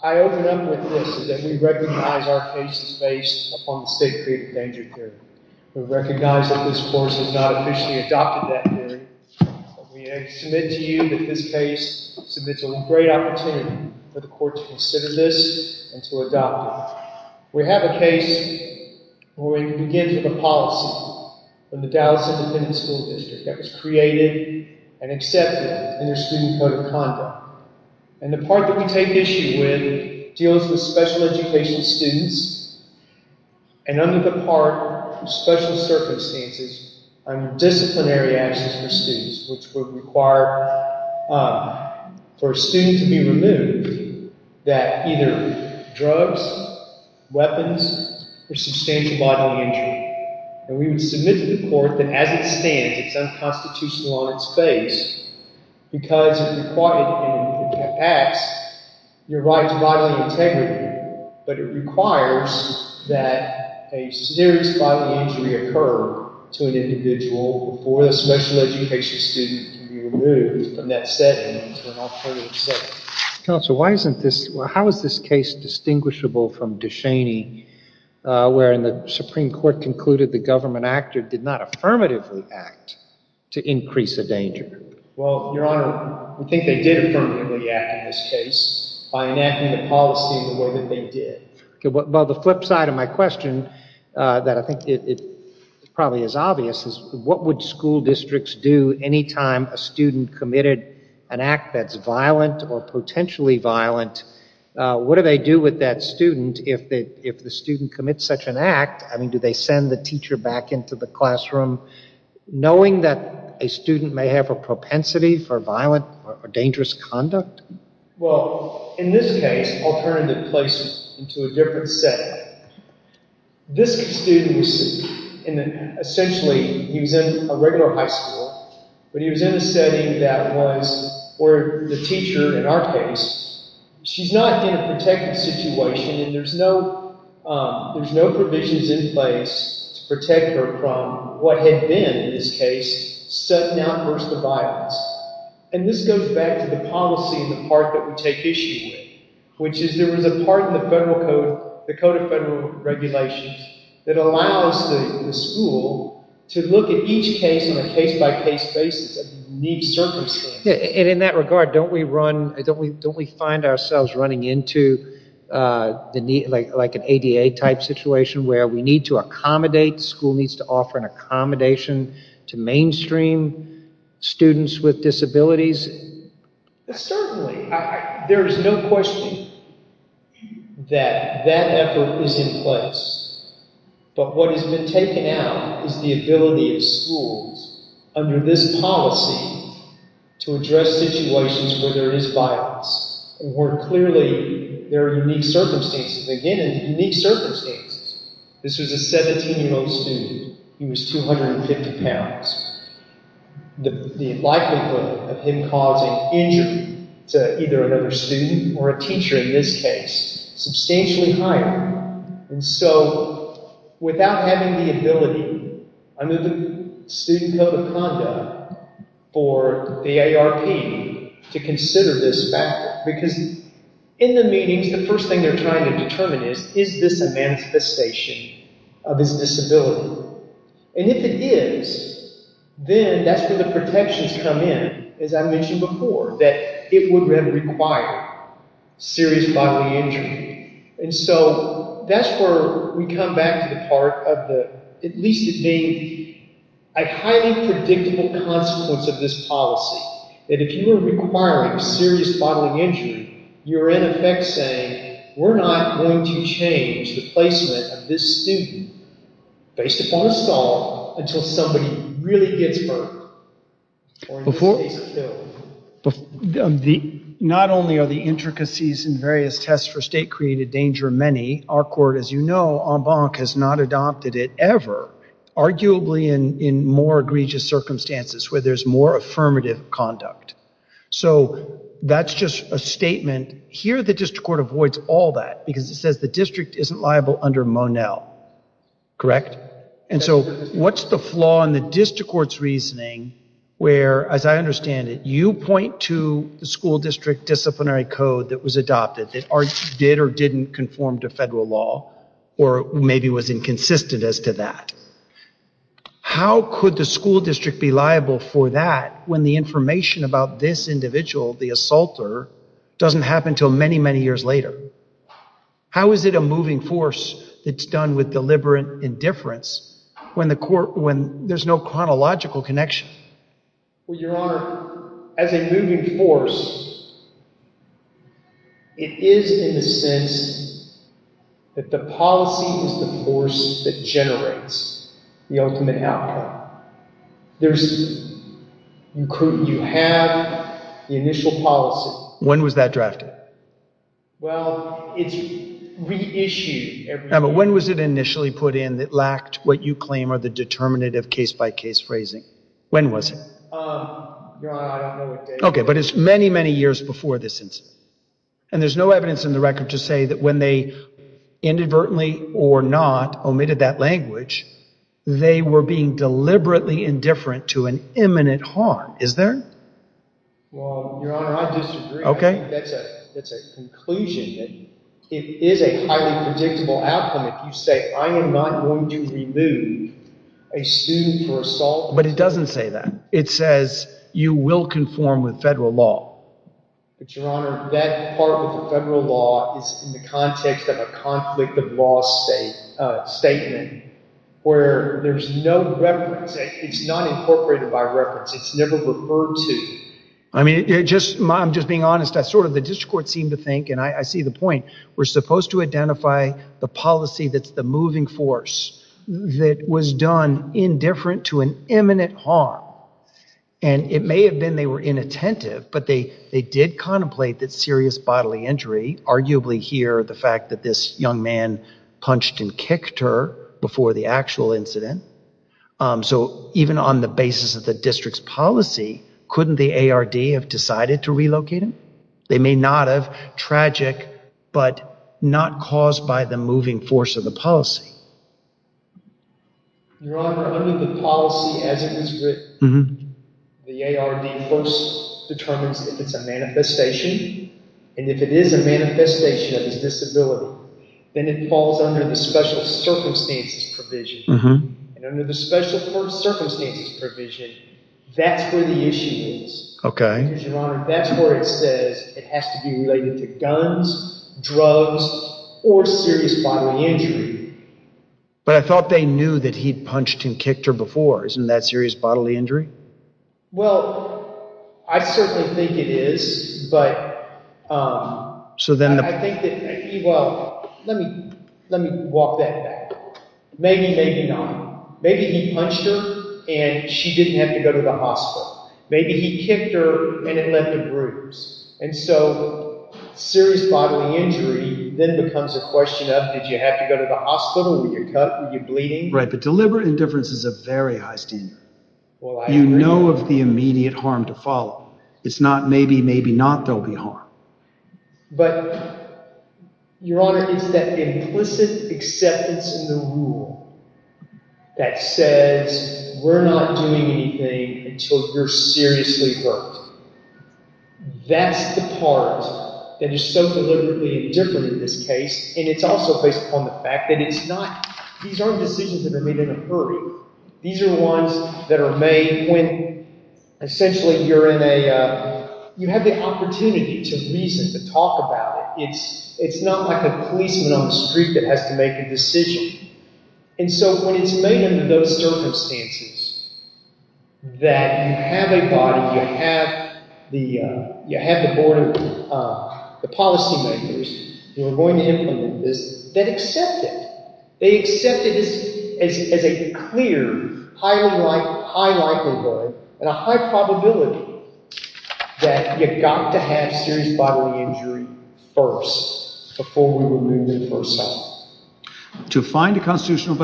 I open up with this, that we recognize our case is based upon the State of Crete Endangered Period. We recognize that this course has not officially adopted that period, but we submit to you that this case submits a great opportunity for the court to consider this and to adopt it. We have a case where we begin with a policy from the Dallas Independent School District that was created and accepted in their Student Code of Conduct. And the part that we take issue with deals with special education students, and under disciplinary action for students, which would require for a student to be removed, that either drugs, weapons, or substantial bodily injury, and we would submit to the court that as it stands, it's unconstitutional on its face, because it required in the past, your body integrity, but it requires that a serious bodily injury occur to an individual before the special education student can be removed from that setting to an alternative setting. Counsel, why isn't this, how is this case distinguishable from DeShaney, wherein the Supreme Court concluded the government actor did not affirmatively act to increase the danger? Well, Your Honor, I think they did affirmatively act in this case by enacting the policy the way that they did. Well, the flip side of my question, that I think it probably is obvious, is what would school districts do any time a student committed an act that's violent or potentially violent? What do they do with that student if the student commits such an act? I mean, do they send the teacher back into the classroom? Knowing that a student may have a propensity for violent or dangerous conduct? Well, in this case, alternative placement into a different setting. This student was, essentially, he was in a regular high school, but he was in a setting that was where the teacher, in our case, she's not in a protective situation, and there's no provisions in place to protect her from what had been, in this case, sudden outbursts of violence. And this goes back to the policy in the part that we take issue with, which is there was a part in the Code of Federal Regulations that allows the school to look at each case on a case-by-case basis of need circumstances. And in that regard, don't we run, don't we find ourselves running into like an ADA-type situation where we need to accommodate, school needs to offer an accommodation to mainstream students with disabilities? Certainly. There is no question that that effort is in place, but what has been taken out is the ability of schools under this policy to address situations where there is violence, and where clearly there are unique circumstances, again, unique circumstances. This was a 17-year-old student. He was 250 pounds. The likelihood of him causing injury to either another student or a teacher, in this case, substantially higher. And so, without having the ability under the Student Code of Conduct for the AARP to consider this factor, because in the meetings, the first thing they're trying to determine is, is this a manifestation of his disability? And if it is, then that's where the protections come in, as I mentioned before, that it would then require serious bodily injury. And so, that's where we come back to the part of the, at least it being a highly predictable consequence of this policy, that if you are requiring serious bodily injury, you're in effect saying, we're not going to change the placement of this student, based upon a stall, until somebody really gets hurt, or in this case, killed. The, not only are the intricacies in various tests for state-created danger many, our court, as you know, en banc, has not adopted it ever, arguably in more egregious circumstances, where there's more affirmative conduct. So, that's just a statement. Here, the district court avoids all that, because it says the district isn't liable under Monell, correct? And so, what's the flaw in the district court's reasoning, where, as I understand it, you point to the school district disciplinary code that was adopted, that did or didn't conform to federal law, or maybe was inconsistent as to that. How could the school district be liable for that, when the information about this individual, the assaulter, doesn't happen until many, many years later? How is it a moving force that's done with deliberate indifference, when the court, when there's no chronological connection? Well, Your Honor, as a moving force, it is in the sense that the policy is the force that generates the ultimate outcome. There's, you have the initial policy. When was that drafted? Well, it's reissued every year. Now, but when was it initially put in that lacked what you claim are the determinative case-by-case phrasing? When was it? Your Honor, I don't know what date. Okay, but it's many, many years before this incident. And there's no evidence in the record to say that when they inadvertently or not omitted that language, they were being deliberately indifferent to an imminent harm, is there? Well, Your Honor, I disagree. Okay. That's a conclusion. It is a highly predictable outcome if you say, I am not going to remove a student for assault. But it doesn't say that. It says you will conform with federal law. But Your Honor, that part of the federal law is in the context of a conflict of law statement where there's no reference. It's not incorporated by reference. It's never referred to. I mean, just, I'm just being honest. I sort of, the district court seemed to think, and I see the point, we're supposed to identify the policy that's the moving force that was done indifferent to an imminent harm. And it may have been they were inattentive, but they did contemplate that serious bodily injury, arguably here, the fact that this young man punched and kicked her before the actual incident. So even on the basis of the district's policy, couldn't the ARD have decided to relocate him? They may not have. Tragic, but not caused by the moving force of the policy. Your Honor, under the policy as it is written, the ARD first determines if it's a manifestation. And if it is a manifestation of his disability, then it falls under the special circumstances provision. And under the special circumstances provision, that's where the issue is. That's where it says it has to be related to guns, drugs, or serious bodily injury. But I thought they knew that he'd punched and kicked her before. Isn't that serious bodily injury? Well, I certainly think it is, but I think that, well, let me walk that back. Maybe, maybe not. Maybe he punched her and she didn't have to go to the hospital. Maybe he kicked her and it left a bruise. And so serious bodily injury then becomes a question of, did you have to go to the hospital? Were you cut? Were you bleeding? Right, but deliberate indifference is a very high standard. You know of the immediate harm to follow. It's not maybe, maybe not, there'll be harm. But, Your Honor, it's that implicit acceptance in the rule that says, we're not doing anything until you're seriously hurt. That's the part that is so deliberately indifferent in this case. And it's also based upon the fact that it's not, these aren't decisions that are made in a hurry. These are ones that are made when essentially you're in a, you have the opportunity to reason, to talk about it. It's not like a policeman on the street that has to make a decision. And so when it's made under those circumstances, that you have a body, you have the, you have the board of the policymakers who are going to implement this, that accept it. They accept it as a clear, high likelihood, and a high probability that you got to have serious bodily injury first, before we remove the person. So, to find a constitutional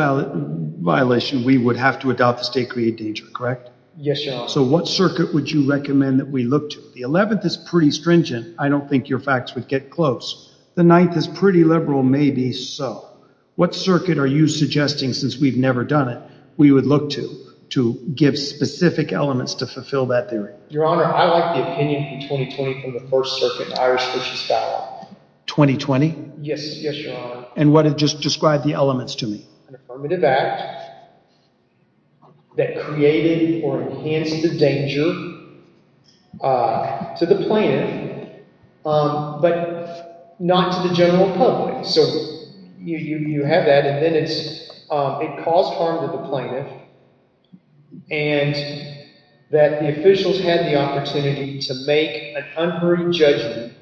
violation, we would have to adopt the state create danger, correct? Yes, Your Honor. So what circuit would you recommend that we look to? The 11th is pretty stringent. I don't think your facts would get close. The 9th is pretty liberal, maybe so. What circuit are you suggesting, since we've never done it, we would look to, to give specific elements to fulfill that theory? Your Honor, I like the opinion in 2020 from the First Circuit, the Irish Fitches Ballot. 2020? Yes, Your Honor. And what, just describe the elements to me. An affirmative act that created or enhanced the danger to the plaintiff, but not to the general public. So, you have that, and then it's, it caused harm to the plaintiff, and that the officials had the opportunity to make an unruly judgment,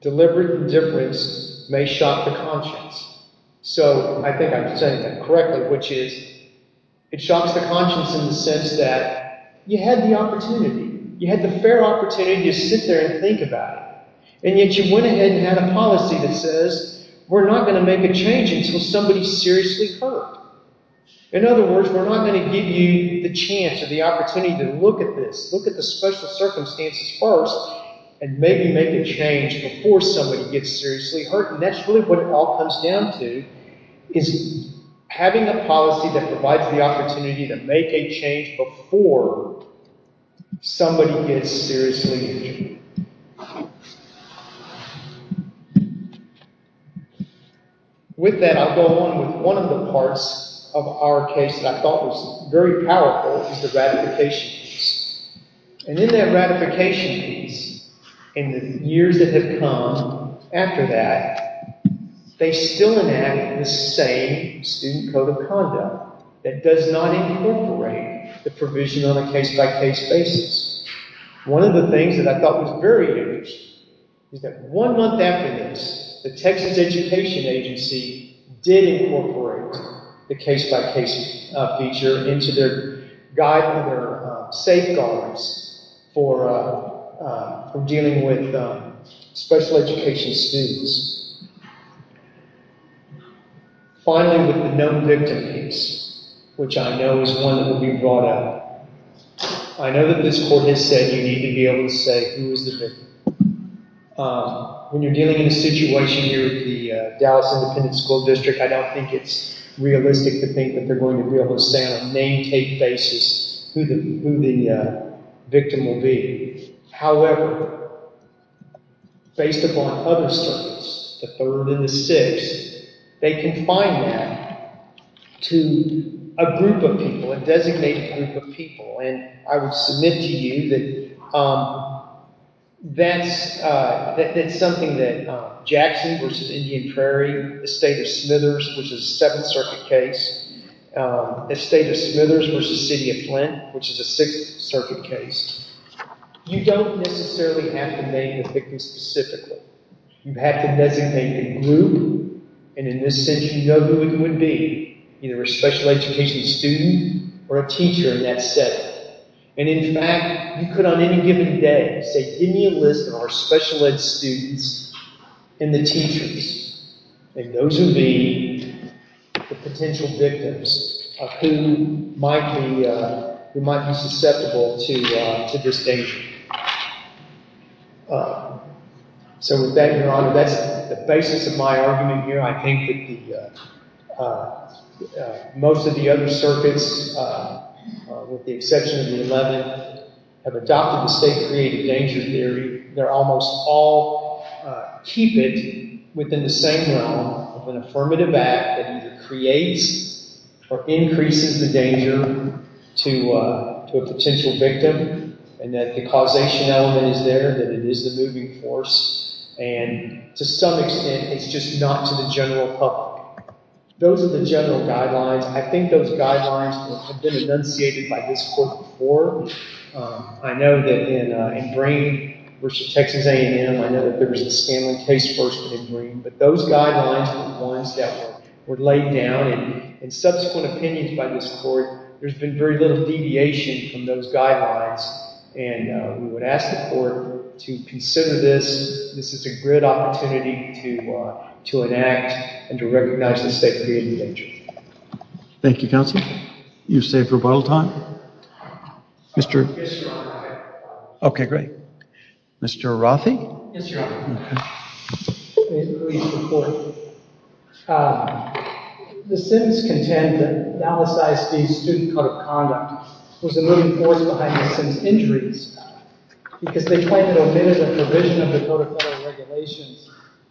deliberate indifference may shock the conscience. So, I think I'm saying that correctly, which is, it shocks the conscience in the sense that you had the opportunity, you had the fair opportunity to sit there and think about it, and yet you went ahead and had a policy that says, we're not going to make a change until somebody's seriously hurt. In other words, we're not going to give you the chance or the opportunity to look at this, look at the special circumstances first, and maybe make a change before somebody gets seriously hurt. And that's really what it all comes down to, is having a policy that provides the opportunity to make a change before somebody gets seriously injured. With that, I'll go on with one of the parts of our case that I thought was very powerful, is the ratification piece. And in that ratification piece, in the years that have come after that, they still enact the same Student Code of Conduct that does not incorporate the provision on a case-by-case basis. One of the things that I thought was very interesting is that one month after this, the Texas Education Agency did incorporate the case-by-case feature into their safeguarding for dealing with special education students. Finally, with the known victim piece, which I know is one that will be brought up. I know that this court has said you need to be able to say who is the victim. When you're dealing in a situation near the Dallas Independent School District, I don't think it's realistic to think that they're going to be able to say on a name-tape basis who the victim will be. However, based upon other studies, the third and the sixth, they confine that to a group of people, a designated group of people. I would submit to you that that's something that Jackson v. Indian Prairie, Estate of Smithers, which is a Seventh Circuit case, Estate of Smithers v. City of Flint, which is a Sixth Circuit case. You don't necessarily have to name the victim specifically. You have to designate a group, and in this sense you know who it would be, either a special education student or a teacher in that setting. In fact, you could on any given day say, give me a list of our special ed students and the teachers, and those would be the potential victims of who might be susceptible to this danger. So with that, Your Honor, that's the basis of my argument here. I think that most of the other circuits, with the exception of the Eleventh, have adopted the state-created danger theory. They're almost all keep it within the same realm of an affirmative act that either creates or increases the danger to a potential victim, and that the causation element is there, that it is the moving force. And to some extent, it's just not to the general public. Those are the general guidelines. I think those guidelines have been enunciated by this Court before. I know that in Green v. Texas A&M, I know that there was a Scanlon case first in Green, but those guidelines were the ones that were laid down, and in subsequent opinions by this Court, there's been very little deviation from those guidelines, and we would ask the Court to consider this. This is a great opportunity to enact and to recognize the state-created danger. Thank you, counsel. You've saved for bottle time. Okay, great. Mr. Rothey? Yes, Your Honor. Thank you, Mr. Court. The Sims contend that Dallas ISD's Student Code of Conduct was the moving force behind Ms. Sims' injuries, because they claim that it omitted the provision of the Code of Federal Regulations,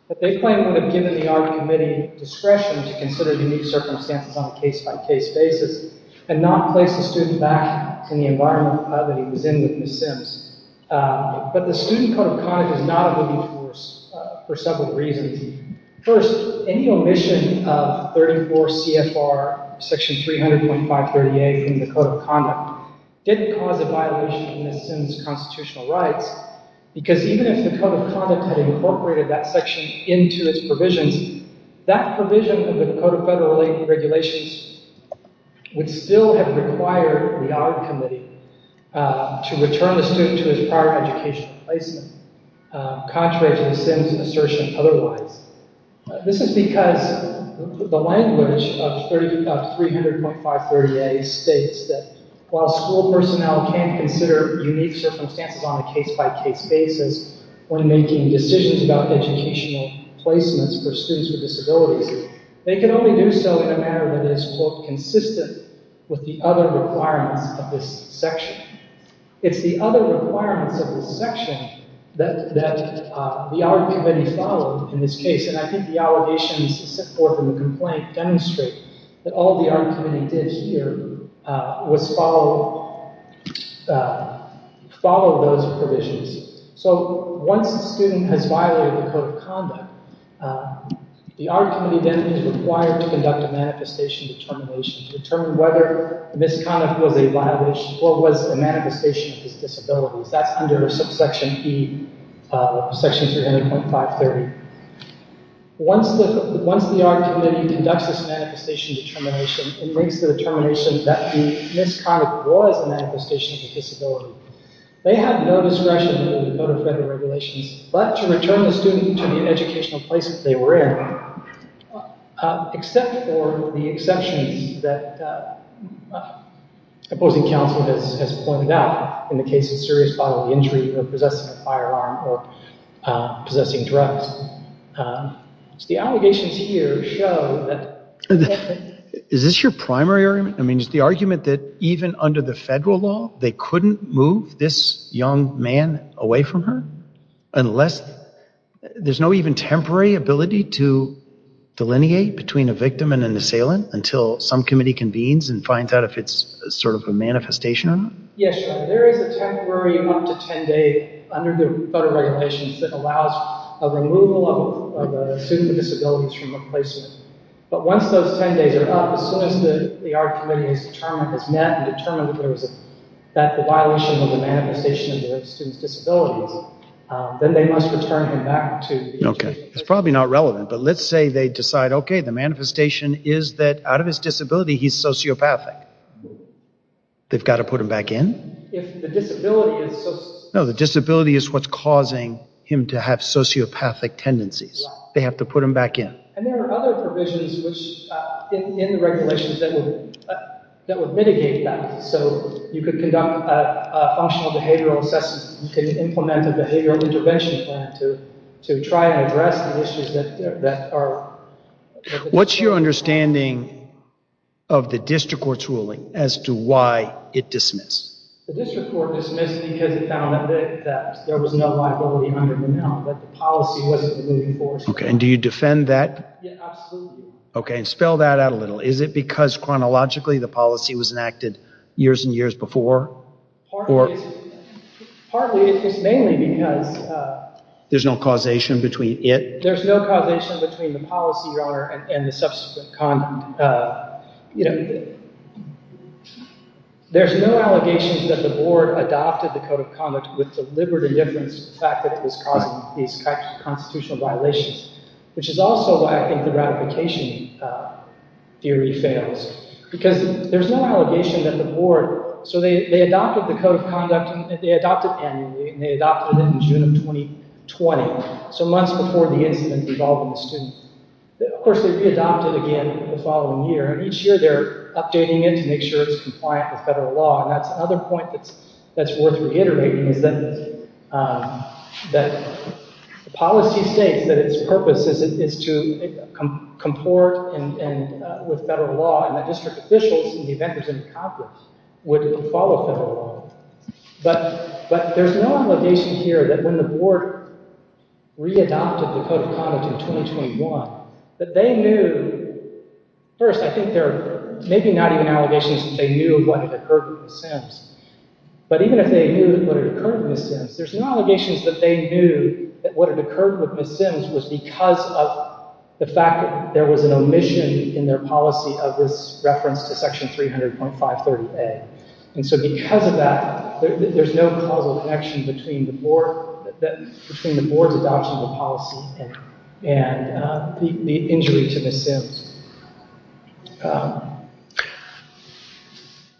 but they claim it would have given the argument committee discretion to consider the unique circumstances on a case-by-case basis, and not place the student back in the environment that he was in with Ms. Sims. But the Student Code of Conduct is not a moving force for several reasons. First, any omission of 34 CFR section 300.538 from the Code of Conduct didn't cause a violation of Ms. Sims' constitutional rights, because even if the Code of Conduct had incorporated that section into its provisions, that provision of the Code of Federal Regulations would still have required the argument committee to return the student to his prior educational placement, contrary to Ms. Sims' assertion otherwise. This is because the language of 300.538 states that while school personnel can consider unique circumstances on a case-by-case basis when making decisions about educational placements for students with disabilities, they can only do so in a manner that is, quote, consistent with the other requirements of this section. It's the other requirements of this section that the argument committee followed in this case, and I think the allegations set forth in the complaint demonstrate that all the argument committee did here was follow those provisions. So once a student has violated the Code of Conduct, the argument committee then is required to conduct a manifestation determination to determine whether Ms. Conniff was a violation or was a manifestation of his disabilities. That's under subsection E of section 300.530. Once the argument committee conducts this manifestation determination, it brings to the determination that Ms. Conniff was a manifestation of a disability. They have no discretion in the Code of Federal Regulations but to return the student to the educational placement they were in, except for the exceptions that opposing counsel has pointed out in the case of serious bodily injury or possessing a firearm or possessing drugs. The allegations here show that- Is this your primary argument? Is the argument that even under the federal law, they couldn't move this young man away from her unless- There's no even temporary ability to delineate between a victim and an assailant until some committee convenes and finds out if it's sort of a manifestation or not? Yes, there is a temporary one to ten day under the Federal Regulations that allows a removal of a student with disabilities from a placement. But once those ten days are up, as soon as the argument committee has met and determined that there was a violation of the manifestation of the student's disabilities, then they must return him back to- Okay. It's probably not relevant, but let's say they decide, okay, the manifestation is that out of his disability, he's sociopathic. They've got to put him back in? If the disability is- No, the disability is what's causing him to have sociopathic tendencies. They have to put him back in. And there are other provisions in the regulations that would mitigate that. So you could conduct a functional behavioral assessment. You could implement a behavioral intervention plan to try and address the issues that are- What's your understanding of the District Court's ruling as to why it dismissed? The District Court dismissed because it found that there was no liability under the bill, that the policy wasn't moving forward. And do you defend that? Yeah, absolutely. Okay, and spell that out a little. Is it because chronologically the policy was enacted years and years before? Partly, it's mainly because- There's no causation between it? There's no causation between the policy, Your Honor, and the subsequent- There's no allegations that the board adopted the Code of Conduct with deliberate indifference to the fact that it was causing these constitutional violations, which is also why I think the ratification theory fails. Because there's no allegation that the board- So they adopted the Code of Conduct. They adopted annually, and they adopted it in June of 2020, so months before the incident involving the student. Of course, they re-adopted again the following year, and each year they're updating it to make sure it's compliant with federal law. And that's another point that's worth reiterating, is that the policy states that its purpose is to comport with federal law, and that district officials and the vendors in Congress would follow federal law. But there's no allegation here that when the board re-adopted the Code of Conduct in 2021, that they knew- First, I think there are maybe not even allegations that they knew what had occurred with the Sims, but even if they knew what had occurred with the Sims, there's no allegations that they knew that what had occurred with the Sims was because of the fact that there was an omission in their policy of this reference to Section 300.530A. And so because of that, there's no causal connection between the board- between the board's adoption of the policy and the injury to the Sims.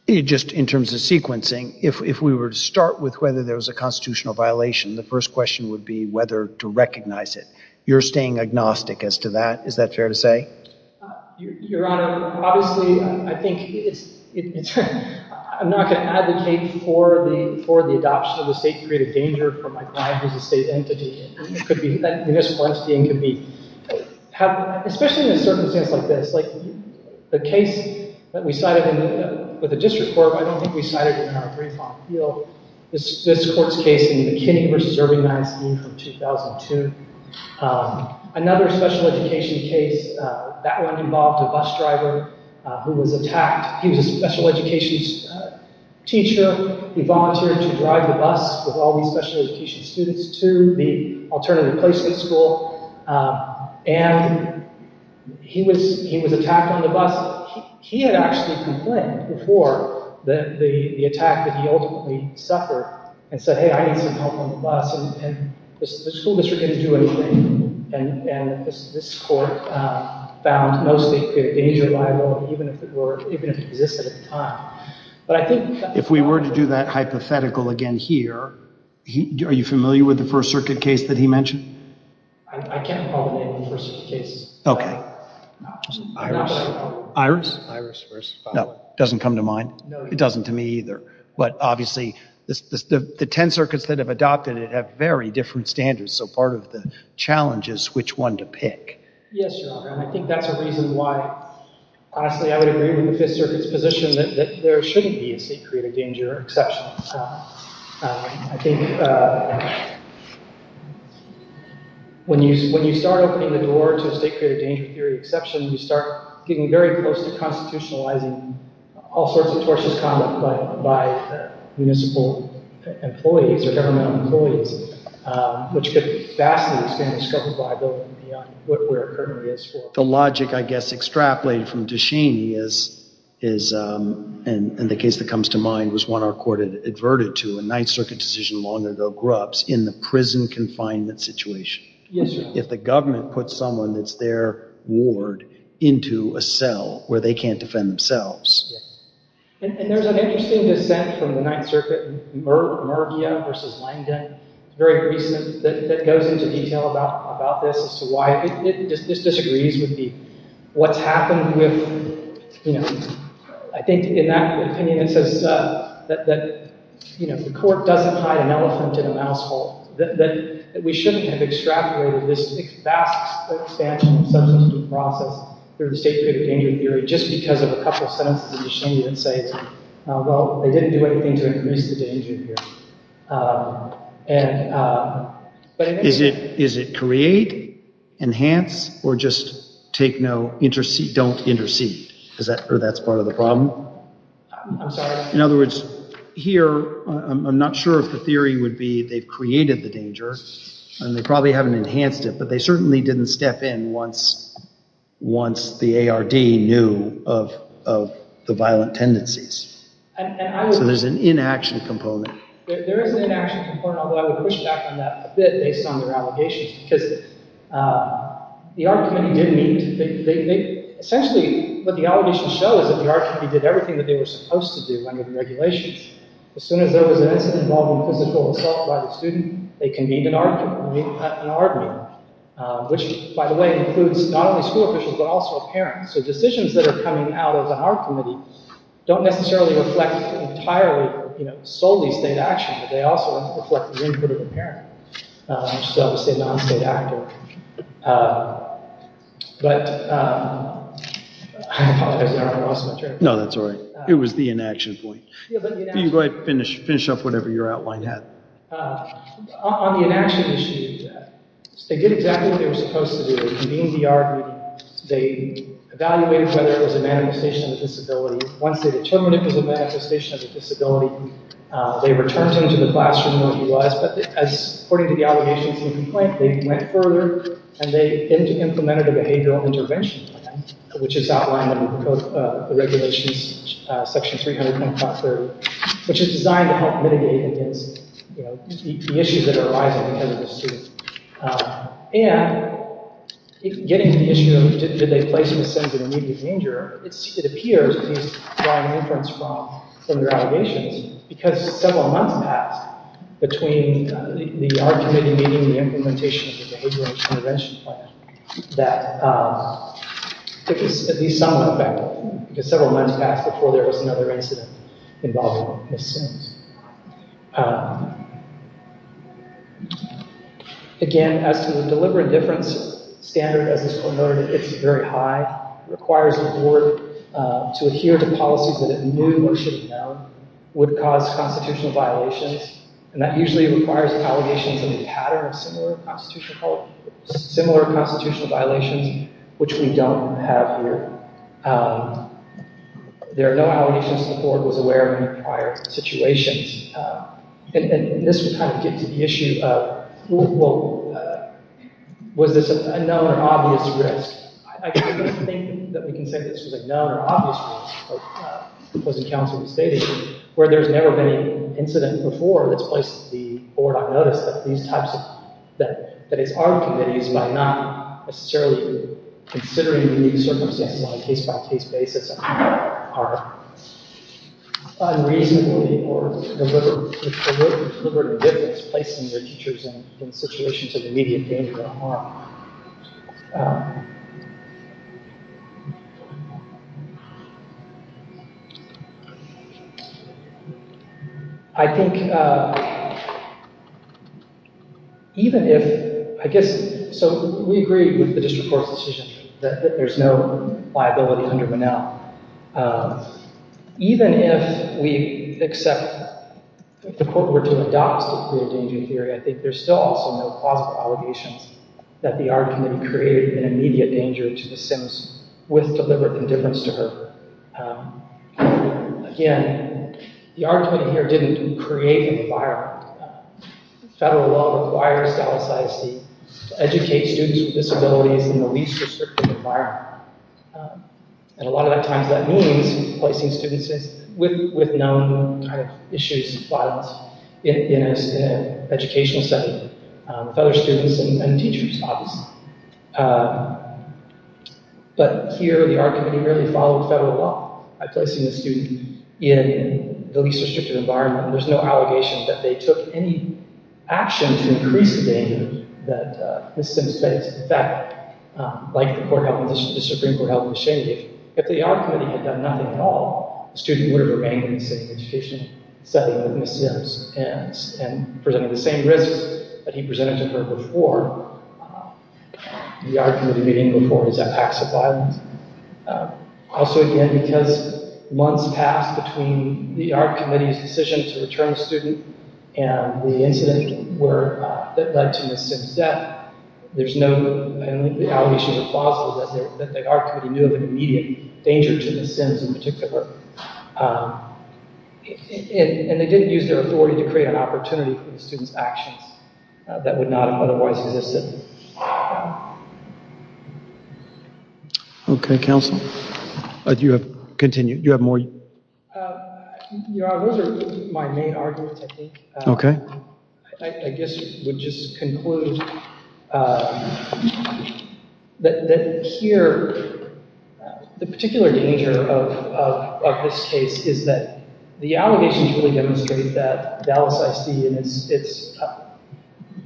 Just in terms of sequencing, if we were to start with whether there was a constitutional violation, the first question would be whether to recognize it. You're staying agnostic as to that. Is that fair to say? Your Honor, obviously, I'm not going to advocate for the adoption of the state to create a danger for my client as a state entity. It could be a municipal entity and could be- especially in a circumstance like this. Like the case that we cited with the district court, but I don't think we cited it in our brief on the field, this court's case in McKinney v. Irving, Madison from 2002. Another special education case, that one involved a bus driver who was attacked. He was a special education teacher. He volunteered to drive the bus with all these special education students too. The alternative placement school. And he was attacked on the bus. He had actually complained before the attack that he ultimately suffered and said, hey, I need some help on the bus. And the school district didn't do anything. And this court found mostly the injury liable, even if it existed at the time. But I think- If we were to do that hypothetical again here, are you familiar with the First Circuit case that he mentioned? I can't recall the name of the First Circuit case. Okay. Iris? No, doesn't come to mind. It doesn't to me either. But obviously, the 10 circuits that have adopted it have very different standards. So part of the challenge is which one to pick. Yes, Your Honor. And I think that's a reason why, honestly, I would agree with the Fifth Circuit's position that there shouldn't be a state created danger, exceptionally. I think when you start opening the door to a state created danger theory exception, you start getting very close to constitutionalizing all sorts of tortious conduct by municipal employees or governmental employees, which could vastly expand the scope of liability beyond what we're currently is for. The logic, I guess, extrapolated from DeShaney is, is, and the case that comes to mind was one our court adverted to a Ninth Circuit decision long ago, Grubbs, in the prison confinement situation. Yes, Your Honor. If the government puts someone that's their ward into a cell where they can't defend themselves. And there's an interesting dissent from the Ninth Circuit, Murgia versus Langdon, very recent, that goes into detail about this, this disagrees with what's happened. I think in that opinion, it says that the court doesn't hide an elephant in a mouse hole. We shouldn't have extrapolated this vast expansion of substance use process through the state created danger theory, just because of a couple of sentences of DeShaney that say, well, they didn't do anything to increase the danger theory. And, is it, is it create, enhance, or just take no intercede, don't intercede? Is that, or that's part of the problem? I'm sorry. In other words, here, I'm not sure if the theory would be they've created the danger, and they probably haven't enhanced it, but they certainly didn't step in once, once the ARD knew of, of the violent tendencies. So there's an inaction component. There is an inaction component, although I would push back on that a bit, based on their allegations, because the ARD Committee did meet, essentially, what the allegations show is that the ARD Committee did everything that they were supposed to do under the regulations. As soon as there was an incident involving physical assault by the student, they convened an ARD meeting, which, by the way, includes not only school officials, but also parents, so decisions that are coming out of the ARD Committee don't necessarily reflect entirely, you know, solely state action, but they also reflect the input of the parent, which is obviously a non-state actor. But, I apologize, I probably lost my train of thought. No, that's all right. It was the inaction point. You can go ahead and finish up whatever your outline had. On the inaction issue, they did exactly what they were supposed to do. They convened the ARD meeting. They evaluated whether it was a manifestation of a disability. Once they determined it was a manifestation of a disability, they returned him to the classroom where he was, but as according to the allegations in the complaint, they went further and they implemented a behavioral intervention plan, which is outlined in the regulations, section 300.530, which is designed to help mitigate the issues that are arising because of the student. And, getting to the issue of did they place Ms. Sims in immediate danger, it appears, at least drawing inference from their allegations, because several months passed between the ARD Committee meeting and the implementation of the behavioral intervention plan, that it was at least somewhat effective, because several months passed before there was another incident involving Ms. Sims. Again, as to the deliberate difference standard, as was noted, it's very high. It requires the board to adhere to policies that it knew or should have known would cause constitutional violations, and that usually requires allegations in the pattern of similar constitutional violations, which we don't have here. There are no allegations the board was aware of in prior situations. And this would kind of get to the issue of, well, was this a known or obvious risk? I don't think that we can say this was a known or obvious risk, because it counts for the state issue, where there's never been an incident before that's placed the board on notice that these types of, that it's ARD Committees, might not necessarily be considering unique circumstances on a case-by-case basis, are unreasonably or deliberately placed in their teachers in situations of immediate danger or harm. I think, even if, I guess, so we agree with the district court's decision that there's no liability under Monell, even if we accept, if the court were to adopt the created danger theory, I think there's still also no plausible allegations that the ARD Committee created an immediate danger to the Sims with deliberate indifference to her. Again, the ARD Committee here didn't create the fire. Federal law requires Dallas ISD to educate students with disabilities in the least restrictive environment, and a lot of the times that means placing students with known kind of issues, violence, in an educational setting. Federal students and teachers, obviously. But here, the ARD Committee really followed federal law by placing the student in the least restrictive environment, and there's no allegation that they took any action to increase the danger that Ms. Sims faced. In fact, like the Supreme Court held in the Shane case, if the ARD Committee had done nothing at all, the student would have remained in the same education setting as Ms. Sims and presented the same risk that he presented to her before. The ARD Committee didn't move forward. Is that a tax of violence? Also, again, because months passed between the ARD Committee's decision to return a student and the incident that led to Ms. Sims' death, there's no allegation that the ARD Committee knew of an immediate danger to Ms. Sims in particular. And they didn't use their authority to create an opportunity for the student's actions that would not have otherwise existed. Okay, counsel. Do you have more? Yeah, those are my main arguments, I think. I guess I would just conclude that here, the particular danger of this case is that the allegations really demonstrate that Dallas ISD and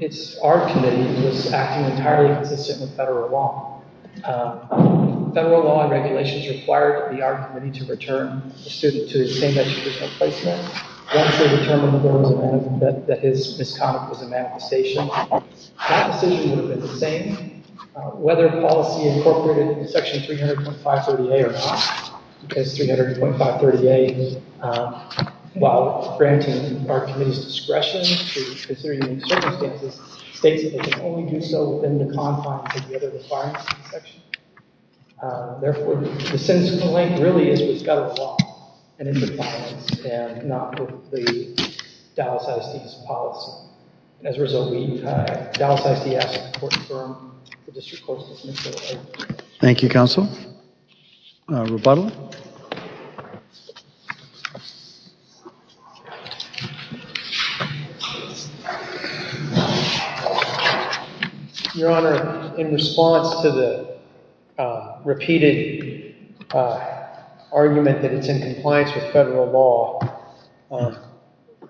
its ARD Committee was acting entirely consistent with federal law. Federal law and regulations required the ARD Committee to return a student to the same educational placement once they determined that his misconduct was a manifestation. That decision would have been the same, whether policy incorporated into Section 300.530A or not. Because 300.530A, while granting the ARD Committee's discretion to consider unique circumstances, states that they can only do so within the confines of the other requirements of the section. Therefore, the sense of the link really is we've got a law and it's in compliance and not with the Dallas ISD's policy. As a result, we've Dallas ISD asked the court to confirm the district court's dismissal. Thank you, counsel. Rebuttal. Your Honor, in response to the repeated argument that it's in compliance with federal law,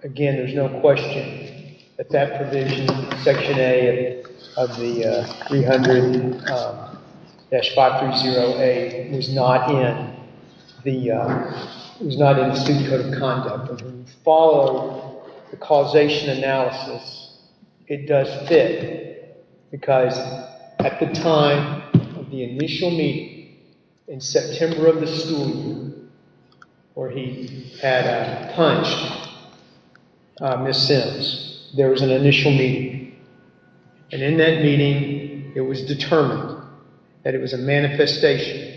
again, there's no question that that provision, Section A of the 300-530A, was not in the student code of conduct. But when you follow the causation analysis, it does fit. Because at the time of the initial meeting in September of the school year, where he had punched Ms. Sims, there was an initial meeting. And in that meeting, it was determined that it was a manifestation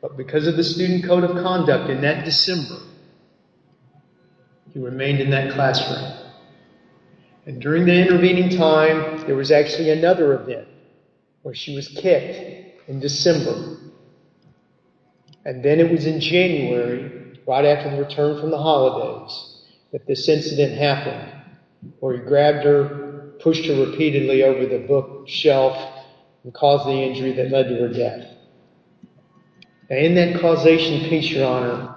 but because of the student code of conduct in that December, he remained in that classroom. And during the intervening time, there was actually another event where she was kicked in December. And then it was in January, right after the return from the holidays, that this incident happened, where he grabbed her, pushed her repeatedly over the bookshelf and caused the injury that led to her death. And in that causation piece, Your Honor,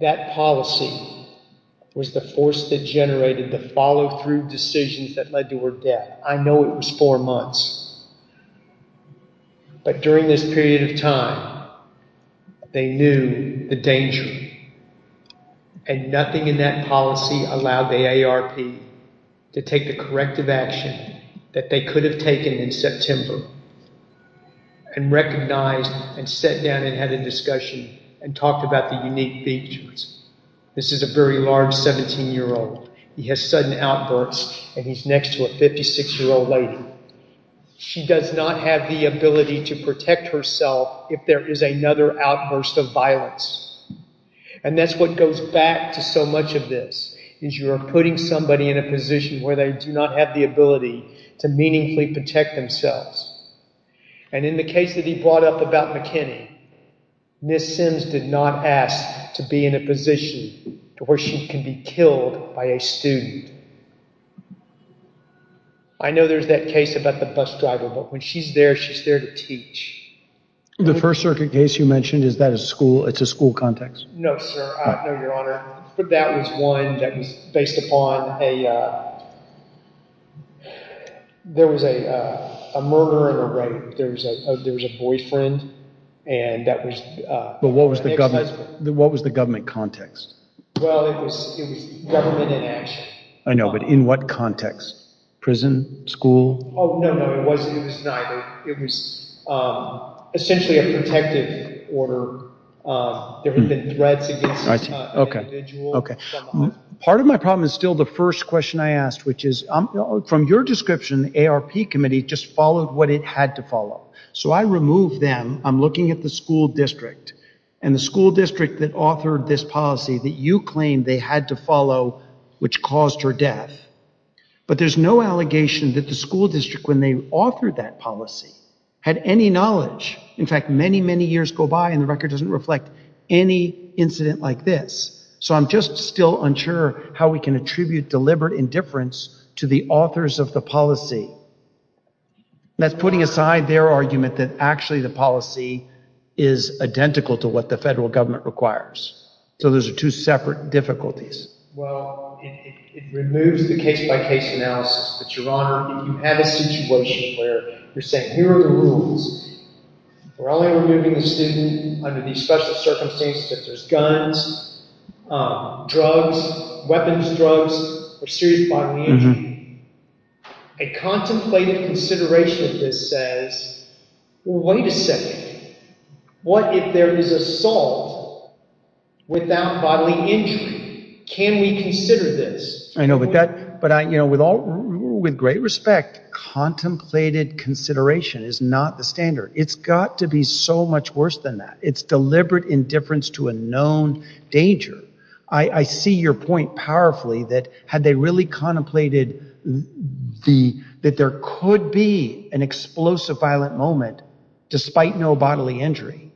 that policy was the force that generated the follow-through decisions that led to her death. I know it was four months. But during this period of time, they knew the danger. And nothing in that policy allowed the AARP to take the corrective action that they could have taken in September. And recognized and sat down and had a discussion and talked about the unique features. This is a very large 17-year-old. He has sudden outbursts and he's next to a 56-year-old lady. She does not have the ability to protect herself if there is another outburst of violence. And that's what goes back to so much of this, is you're putting somebody in a position where they do not have the ability to meaningfully protect themselves. And in the case that he brought up about McKinney, Ms. Sims did not ask to be in a position where she can be killed by a student. I know there's that case about the bus driver, but when she's there, she's there to teach. The First Circuit case you mentioned, is that a school, it's a school context? No, sir. No, Your Honor. But that was one that was based upon a, there was a, a murder and a rape. There was a, there was a boyfriend. And that was... But what was the government, what was the government context? Well, it was, it was government in action. I know, but in what context? Prison, school? Oh, no, no, it wasn't, it was neither. It was essentially a protective order. There had been threats against an individual. Okay. Part of my problem is still the first question I asked, which is, from your description, the ARP committee just followed what it had to follow. So I removed them. I'm looking at the school district and the school district that authored this policy that you claimed they had to follow, which caused her death. But there's no allegation that the school district, when they authored that policy, had any knowledge. In fact, many, many years go by and the record doesn't reflect any incident like this. So I'm just still unsure how we can attribute deliberate indifference to the authors of the policy. That's putting aside their argument that actually the policy is identical to what the federal government requires. So those are two separate difficulties. Well, it removes the case-by-case analysis. But Your Honor, if you have a situation where you're saying, here are the rules. We're only removing a student under these special circumstances if there's guns, drugs, weapons, drugs, or serious bodily injury. A contemplated consideration of this says, wait a second, what if there is assault without bodily injury? Can we consider this? But with great respect, contemplated consideration is not the standard. It's got to be so much worse than that. It's deliberate indifference to a known danger. I see your point powerfully that had they really contemplated that there could be an explosive violent moment despite no bodily injury.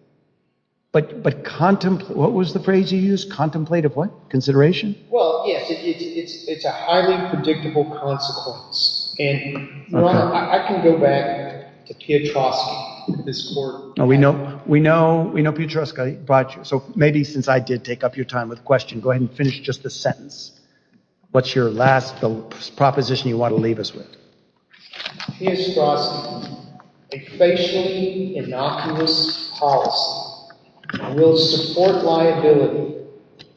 But what was the phrase you used? Contemplative what? Consideration? Well, yes, it's a highly predictable consequence. And Your Honor, I can go back to Piotrowski, this court. We know Piotrowski brought you. So maybe since I did take up your time with the question, go ahead and finish just the sentence. What's your last proposition you want to leave us with? Piotrowski, a facially innocuous policy will support liability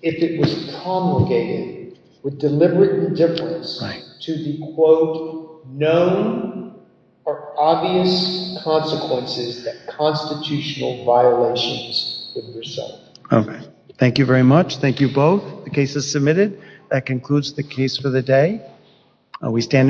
if it was promulgated with deliberate indifference to the, quote, known or obvious consequences that constitutional violations would result. Okay. Thank you very much. Thank you both. The case is submitted. That concludes the case for the day. We stand in recess.